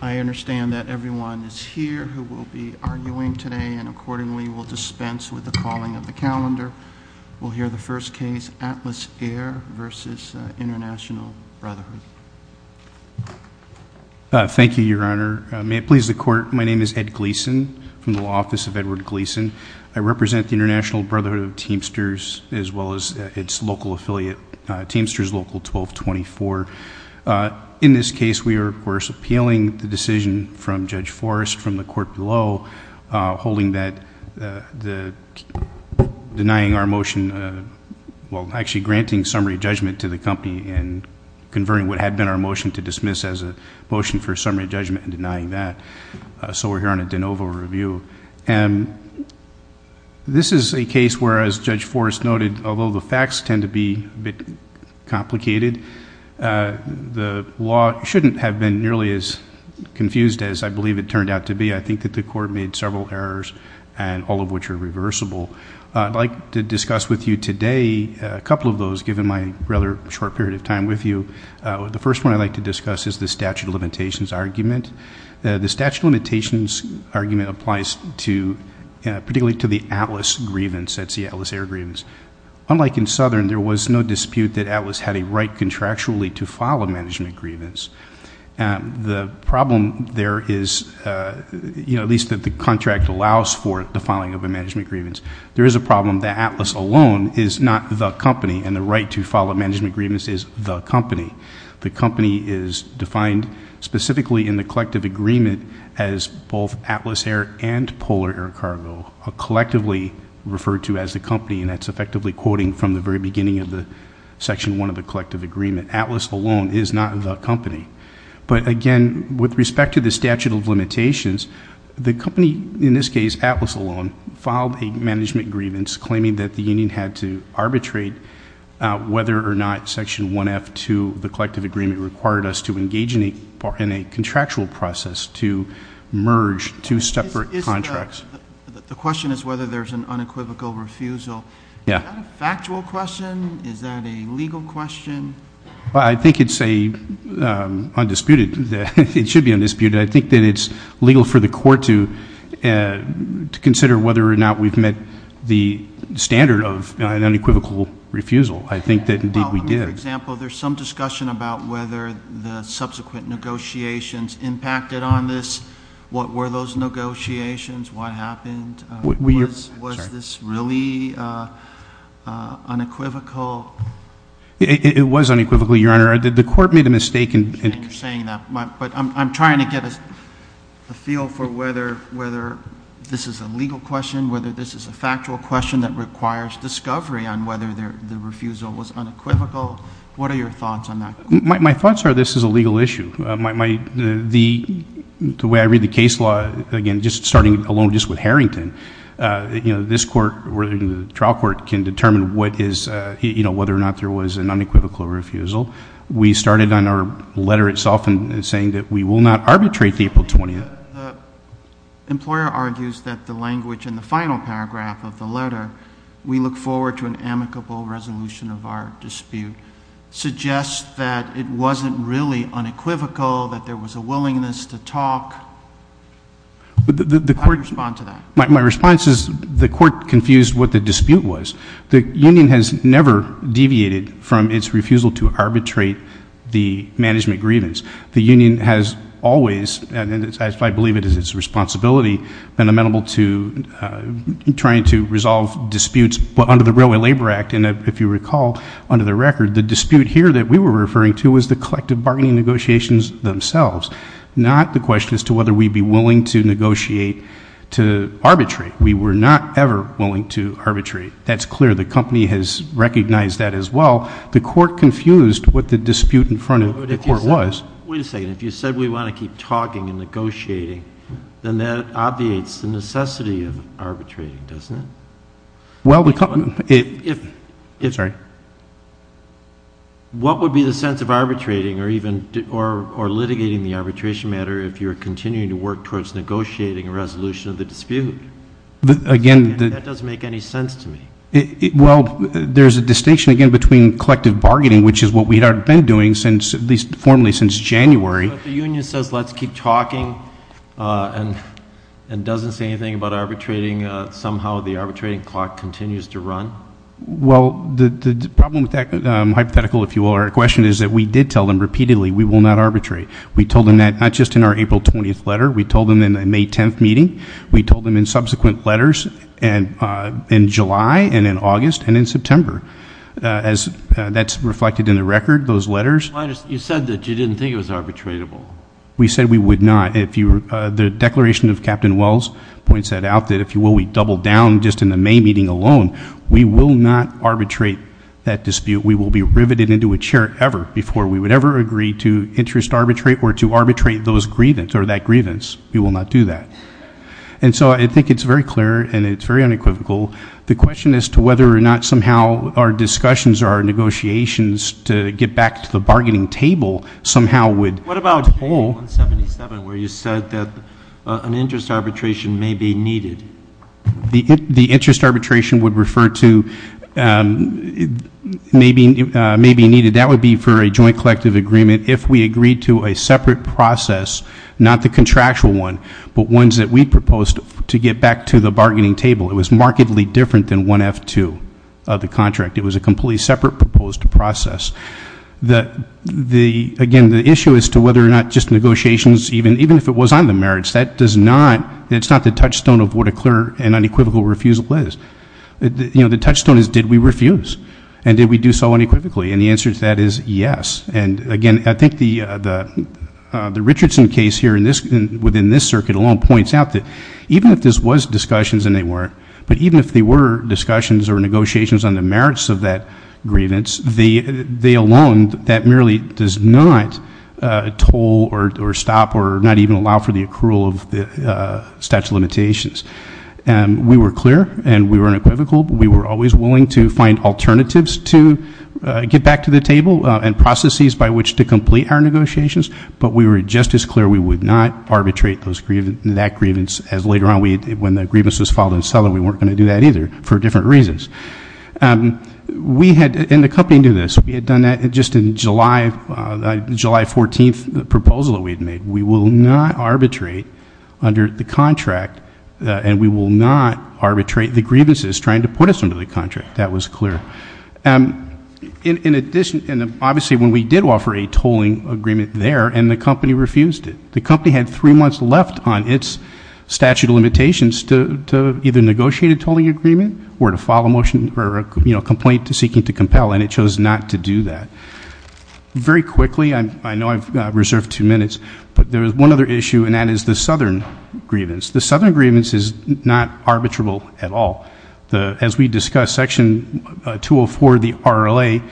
I understand that everyone is here who will be arguing today and accordingly will dispense with the calling of the calendar. We'll hear the first case, Atlas Air v. International Brotherhood. Thank you, Your Honor. May it please the Court, my name is Ed Gleeson from the Law Office of Edward Gleeson. I represent the International Brotherhood of Teamsters as well as its local affiliate, Teamsters Local 1224. In this case, we are, of course, appealing the decision from Judge Forrest from the Court below, holding that, denying our motion, well, actually granting summary judgment to the company and converting what had been our motion to dismiss as a motion for summary judgment and denying that. So we're here on a de novo review. And this is a case where, as Judge Forrest noted, although the facts tend to be a bit complicated, the law shouldn't have been nearly as confused as I believe it turned out to be. I think that the Court made several errors, all of which are reversible. I'd like to discuss with you today a couple of those, given my rather short period of time with you. The first one I'd like to discuss is the statute of limitations argument. The statute of limitations argument applies particularly to the Atlas grievance, that's the Atlas Air Grievance. Unlike in Southern, there was no dispute that Atlas had a right contractually to file a management grievance. The problem there is, you know, at least that the contract allows for the filing of a management grievance. There is a problem that Atlas alone is not the company, and the right to file a management grievance is the company. The company is defined specifically in the collective agreement as both Atlas Air and Polar Air Cargo, collectively referred to as the company, and that's effectively quoting from the very beginning of the section one of the collective agreement. Atlas alone is not the company. But again, with respect to the statute of limitations, the company, in this case Atlas alone, filed a management grievance claiming that the union had to arbitrate whether or not section 1F to the collective agreement required us to engage in a contractual process to merge two separate contracts. The question is whether there's an unequivocal refusal. Is that a factual question? Is that a legal question? I think it's undisputed. It should be undisputed. I think that it's legal for the court to consider whether or not we've met the standard of an unequivocal refusal. I think that, indeed, we did. For example, there's some discussion about whether the subsequent negotiations impacted on this. What were those negotiations? What happened? Was this really unequivocal? It was unequivocally, Your Honor. The court made a mistake. I appreciate you saying that, but I'm trying to get a feel for whether this is a legal question, whether this is a factual question that requires discovery on whether the refusal was unequivocal. What are your thoughts on that? My thoughts are this is a legal issue. The way I read the case law, again, just starting alone just with Harrington, this court or the trial court can determine whether or not there was an unequivocal refusal. We started on our letter itself in saying that we will not arbitrate the April 20th. The employer argues that the language in the final paragraph of the letter, we look forward to an amicable resolution of our dispute, suggests that it wasn't really unequivocal, that there was a willingness to talk. How do you respond to that? My response is the court confused what the dispute was. The union has never deviated from its refusal to arbitrate the management grievance. The union has always, and I believe it is its responsibility, been amenable to trying to resolve disputes under the Railway Labor Act. And if you recall, under the record, the dispute here that we were referring to was the collective bargaining negotiations themselves, not the question as to whether we'd be willing to negotiate to arbitrate. We were not ever willing to arbitrate. That's clear. The company has recognized that as well. The court confused what the dispute in front of the court was. Wait a second. If you said we want to keep talking and negotiating, then that obviates the necessity of arbitrating, doesn't it? Well, the company – sorry. What would be the sense of arbitrating or litigating the arbitration matter if you were continuing to work towards negotiating a resolution of the dispute? That doesn't make any sense to me. Well, there's a distinction, again, between collective bargaining, which is what we have been doing, at least formally, since January. So if the union says let's keep talking and doesn't say anything about arbitrating, somehow the arbitrating clock continues to run? Well, the problem with that hypothetical, if you will, or question is that we did tell them repeatedly we will not arbitrate. We told them that not just in our April 20th letter. We told them in the May 10th meeting. We told them in subsequent letters in July and in August and in September. That's reflected in the record, those letters. You said that you didn't think it was arbitratable. We said we would not. The declaration of Captain Wells points that out, that if you will, we doubled down just in the May meeting alone. We will not arbitrate that dispute. We will be riveted into a chair ever before we would ever agree to interest arbitrate or to arbitrate those grievance or that grievance. We will not do that. And so I think it's very clear and it's very unequivocal. The question as to whether or not somehow our discussions or our negotiations to get back to the bargaining table somehow would hold. What about 177 where you said that an interest arbitration may be needed? The interest arbitration would refer to may be needed. That would be for a joint collective agreement if we agreed to a separate process, not the contractual one, but ones that we proposed to get back to the bargaining table. It was markedly different than 1F2 of the contract. It was a completely separate proposed process. Again, the issue as to whether or not just negotiations, even if it was on the merits, that does not, it's not the touchstone of what a clear and unequivocal refusal is. You know, the touchstone is did we refuse and did we do so unequivocally? And the answer to that is yes. And, again, I think the Richardson case here in this, within this circuit alone, points out that even if this was discussions and they weren't, but even if they were discussions or negotiations on the merits of that grievance, they alone, that merely does not toll or stop or not even allow for the accrual of the statute of limitations. We were clear and we were unequivocal. We were always willing to find alternatives to get back to the table and processes by which to complete our negotiations, but we were just as clear we would not arbitrate that grievance as later on. When the grievance was filed and settled, we weren't going to do that either for different reasons. We had, and the company knew this, we had done that just in July 14th, the proposal that we had made. We will not arbitrate under the contract and we will not arbitrate the grievances trying to put us under the contract. That was clear. In addition, and obviously when we did offer a tolling agreement there and the company refused it. The company had three months left on its statute of limitations to either negotiate a tolling agreement or to file a motion or a complaint seeking to compel, and it chose not to do that. Very quickly, I know I've reserved two minutes, but there was one other issue, and that is the southern grievance. The southern grievance is not arbitrable at all. As we discussed, Section 204 of the RLA,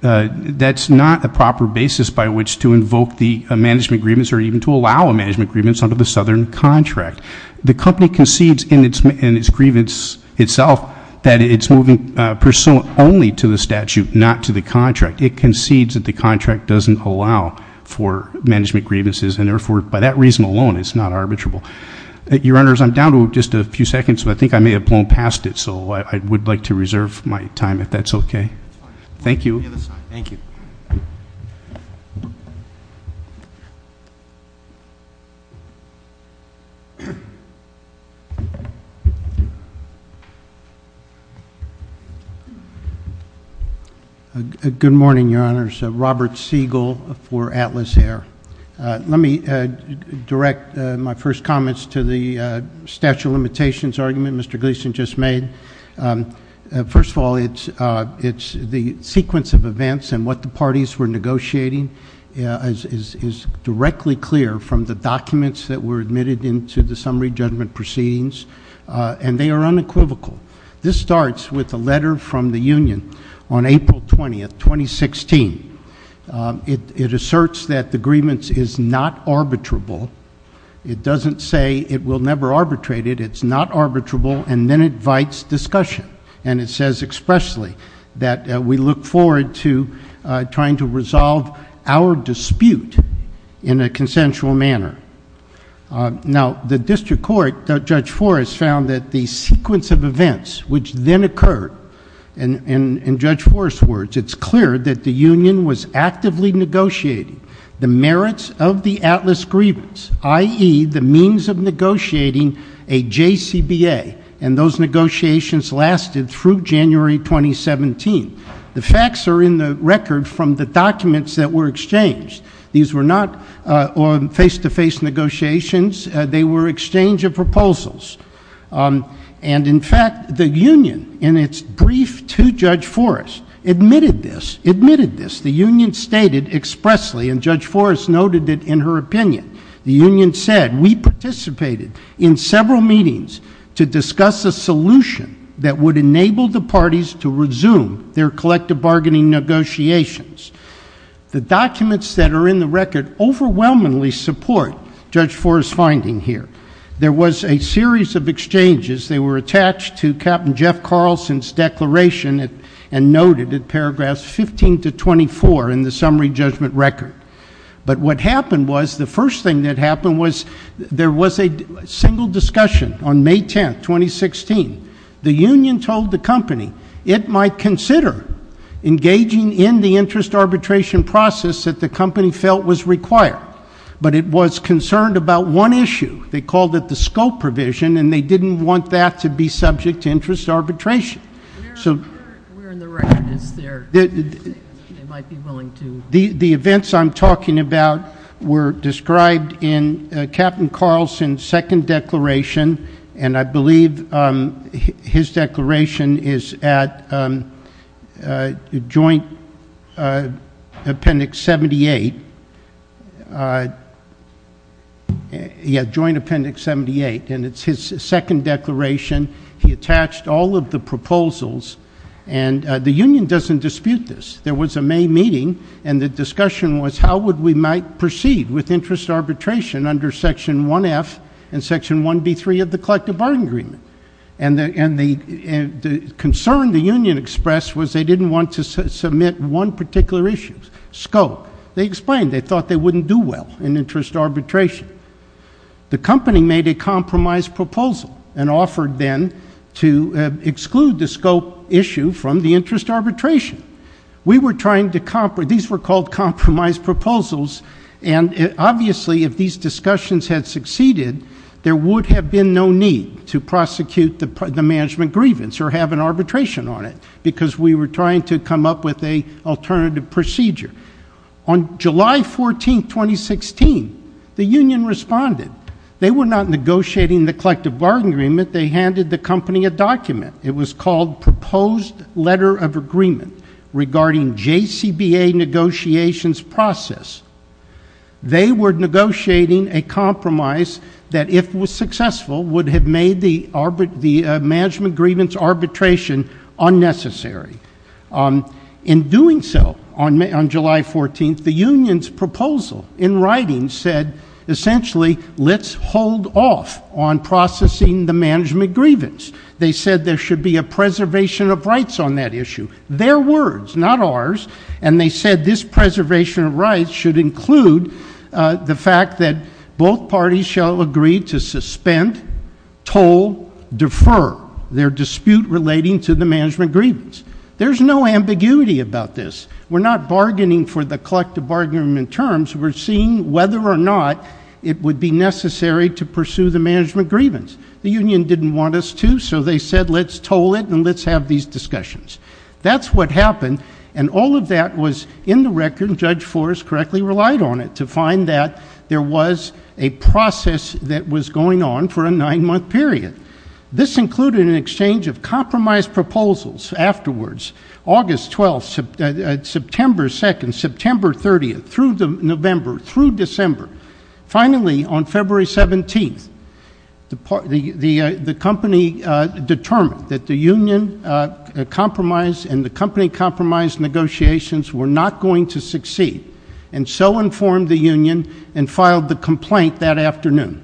that's not a proper basis by which to invoke the management grievance or even to allow a management grievance under the southern contract. The company concedes in its grievance itself that it's moving pursuant only to the statute, not to the contract. It concedes that the contract doesn't allow for management grievances, and therefore, by that reason alone, it's not arbitrable. Your Honors, I'm down to just a few seconds, but I think I may have blown past it, so I would like to reserve my time if that's okay. Thank you. Thank you. Good morning, Your Honors. Robert Siegel for Atlas Air. Let me direct my first comments to the statute of limitations argument Mr. Gleeson just made. First of all, it's the sequence of events and what the parties were negotiating is directly clear from the documents that were admitted into the summary judgment proceedings, and they are unequivocal. This starts with a letter from the union on April 20th, 2016. It asserts that the grievance is not arbitrable. It doesn't say it will never arbitrate it. It's not arbitrable, and then it invites discussion, and it says expressly that we look forward to trying to resolve our dispute in a consensual manner. Now, the district court, Judge Forrest, found that the sequence of events which then occurred, and in Judge Forrest's words, it's clear that the union was actively negotiating the merits of the Atlas grievance, i.e., the means of negotiating a JCBA, and those negotiations lasted through January 2017. The facts are in the record from the documents that were exchanged. These were not face-to-face negotiations. They were exchange of proposals, and, in fact, the union, in its brief to Judge Forrest, admitted this, admitted this. The union stated expressly, and Judge Forrest noted it in her opinion, the union said we participated in several meetings to discuss a solution that would enable the parties to resume their collective bargaining negotiations. The documents that are in the record overwhelmingly support Judge Forrest's finding here. There was a series of exchanges. They were attached to Captain Jeff Carlson's declaration and noted in paragraphs 15 to 24 in the summary judgment record, but what happened was the first thing that happened was there was a single discussion on May 10, 2016. The union told the company it might consider engaging in the interest arbitration process that the company felt was required, but it was concerned about one issue. They called it the scope provision, and they didn't want that to be subject to interest arbitration. So the events I'm talking about were described in Captain Carlson's second declaration, and I believe his declaration is at Joint Appendix 78, and it's his second declaration. He attached all of the proposals, and the union doesn't dispute this. There was a May meeting, and the discussion was how we might proceed with interest arbitration under Section 1F and Section 1B3 of the collective bargaining agreement, and the concern the union expressed was they didn't want to submit one particular issue, scope. They explained they thought they wouldn't do well in interest arbitration. The company made a compromise proposal and offered then to exclude the scope issue from the interest arbitration. These were called compromise proposals, and obviously if these discussions had succeeded, there would have been no need to prosecute the management grievance or have an arbitration on it because we were trying to come up with an alternative procedure. On July 14, 2016, the union responded. They were not negotiating the collective bargaining agreement. They handed the company a document. It was called Proposed Letter of Agreement Regarding JCBA Negotiations Process. They were negotiating a compromise that, if it was successful, would have made the management grievance arbitration unnecessary. In doing so, on July 14, the union's proposal in writing said, essentially, let's hold off on processing the management grievance. They said there should be a preservation of rights on that issue. Their words, not ours, and they said this preservation of rights should include the fact that both parties shall agree to suspend, toll, defer their dispute relating to the management grievance. There's no ambiguity about this. We're not bargaining for the collective bargaining agreement terms. We're seeing whether or not it would be necessary to pursue the management grievance. The union didn't want us to, so they said let's toll it and let's have these discussions. That's what happened, and all of that was in the record. Judge Forrest correctly relied on it to find that there was a process that was going on for a nine-month period. This included an exchange of compromise proposals afterwards, August 12, September 2, September 30, through November, through December. Finally, on February 17, the company determined that the union compromise and the company compromise negotiations were not going to succeed, and so informed the union and filed the complaint that afternoon.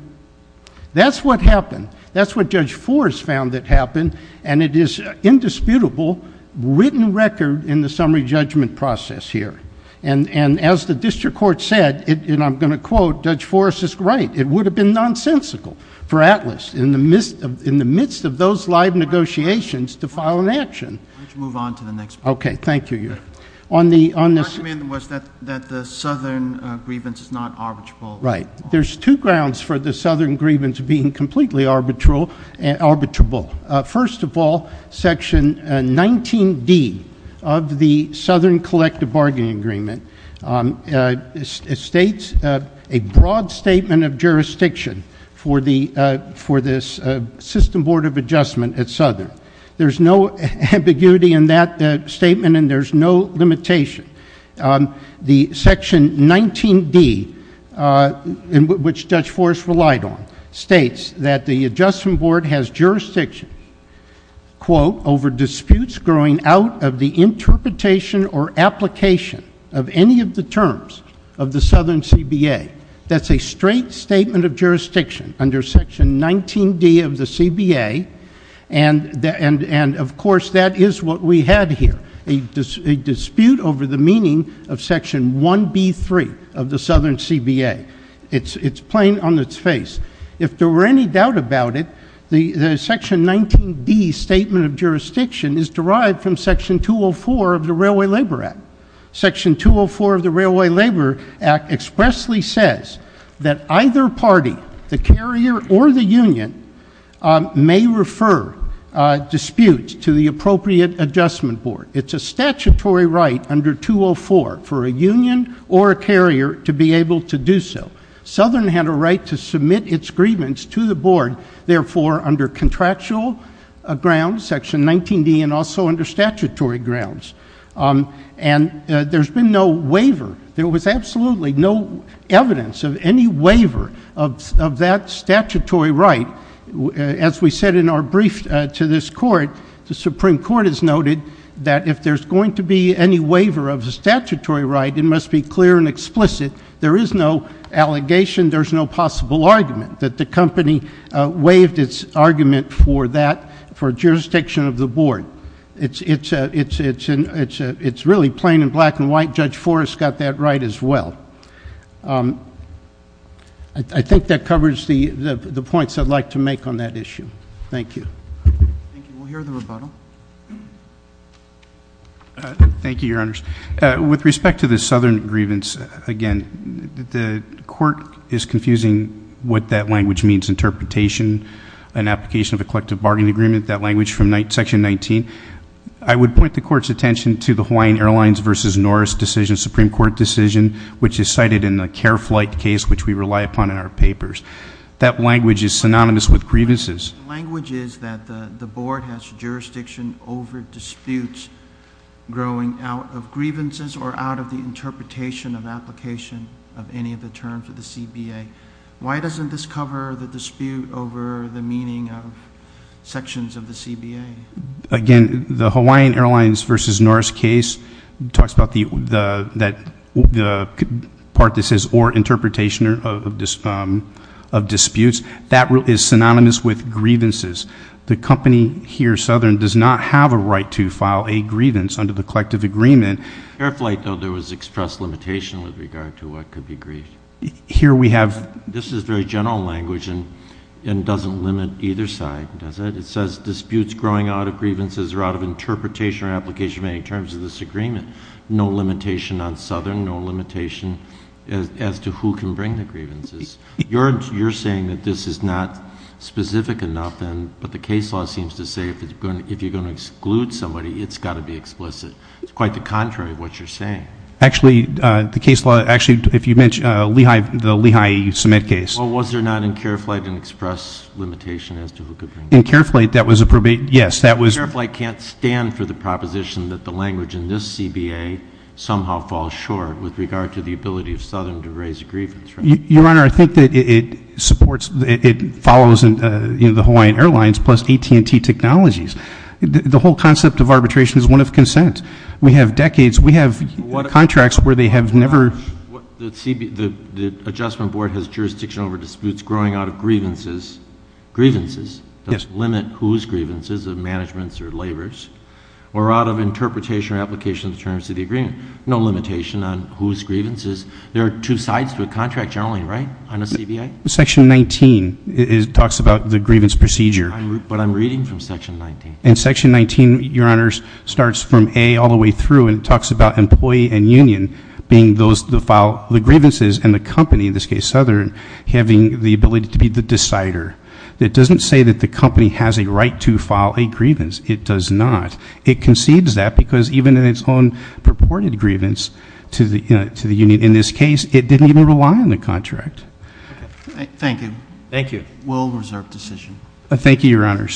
That's what happened. That's what Judge Forrest found that happened, and it is indisputable, written record in the summary judgment process here. As the district court said, and I'm going to quote, Judge Forrest is right. It would have been nonsensical for Atlas, in the midst of those live negotiations, to file an action. Let's move on to the next part. Okay, thank you. The argument was that the southern grievance is not arbitrable. Right. There's two grounds for the southern grievance being completely arbitrable. First of all, Section 19D of the Southern Collective Bargaining Agreement states a broad statement of jurisdiction for this system board of adjustment at Southern. There's no ambiguity in that statement, and there's no limitation. The Section 19D, which Judge Forrest relied on, states that the adjustment board has jurisdiction, quote, over disputes growing out of the interpretation or application of any of the terms of the Southern CBA. That's a straight statement of jurisdiction under Section 19D of the CBA, and, of course, that is what we had here, a dispute over the meaning of Section 1B3 of the Southern CBA. It's plain on its face. If there were any doubt about it, the Section 19D statement of jurisdiction is derived from Section 204 of the Railway Labor Act. Section 204 of the Railway Labor Act expressly says that either party, the carrier or the union, may refer disputes to the appropriate adjustment board. It's a statutory right under 204 for a union or a carrier to be able to do so. Southern had a right to submit its grievance to the board, therefore, under contractual grounds, Section 19D, and also under statutory grounds. And there's been no waiver. There was absolutely no evidence of any waiver of that statutory right. As we said in our brief to this court, the Supreme Court has noted that if there's going to be any waiver of a statutory right, it must be clear and explicit. There is no allegation. There's no possible argument that the company waived its argument for that, for jurisdiction of the board. It's really plain and black and white. Judge Forrest got that right as well. I think that covers the points I'd like to make on that issue. Thank you. Thank you. We'll hear the rebuttal. Thank you, Your Honors. With respect to the southern grievance, again, the court is confusing what that language means. It's interpretation, an application of a collective bargaining agreement, that language from Section 19. I would point the court's attention to the Hawaiian Airlines versus Norris decision, Supreme Court decision, which is cited in the Care Flight case, which we rely upon in our papers. That language is synonymous with grievances. The language is that the board has jurisdiction over disputes growing out of grievances or out of the interpretation of application of any of the terms of the CBA. Why doesn't this cover the dispute over the meaning of sections of the CBA? Again, the Hawaiian Airlines versus Norris case talks about the part that says, or interpretation of disputes. That is synonymous with grievances. The company here, Southern, does not have a right to file a grievance under the collective agreement. At Care Flight, though, there was express limitation with regard to what could be grieved. Here we have This is very general language and doesn't limit either side, does it? It says disputes growing out of grievances or out of interpretation or application of any terms of this agreement. No limitation on Southern, no limitation as to who can bring the grievances. You're saying that this is not specific enough, but the case law seems to say if you're going to exclude somebody, it's got to be explicit. It's quite the contrary of what you're saying. Actually, the case law, actually, if you mention the Lehigh cement case. Well, was there not in Care Flight an express limitation as to who could bring the grievances? In Care Flight, that was a probate. Yes, that was Care Flight can't stand for the proposition that the language in this CBA somehow falls short with regard to the ability of Southern to raise a grievance, right? Your Honor, I think that it supports, it follows the Hawaiian Airlines plus AT&T Technologies. The whole concept of arbitration is one of consent. We have decades. We have contracts where they have never The adjustment board has jurisdiction over disputes growing out of grievances. Grievances? Yes. Limit whose grievances, the management's or labor's, or out of interpretation or application of terms of the agreement. No limitation on whose grievances. There are two sides to a contract generally, right, on a CBA? Section 19 talks about the grievance procedure. But I'm reading from Section 19. And Section 19, Your Honors, starts from A all the way through and talks about employee and union being those who file the grievances and the company, in this case Southern, having the ability to be the decider. It doesn't say that the company has a right to file a grievance. It does not. It concedes that because even in its own purported grievance to the union in this case, it didn't even rely on the contract. Thank you. Thank you. We'll reserve decision. Thank you, Your Honors.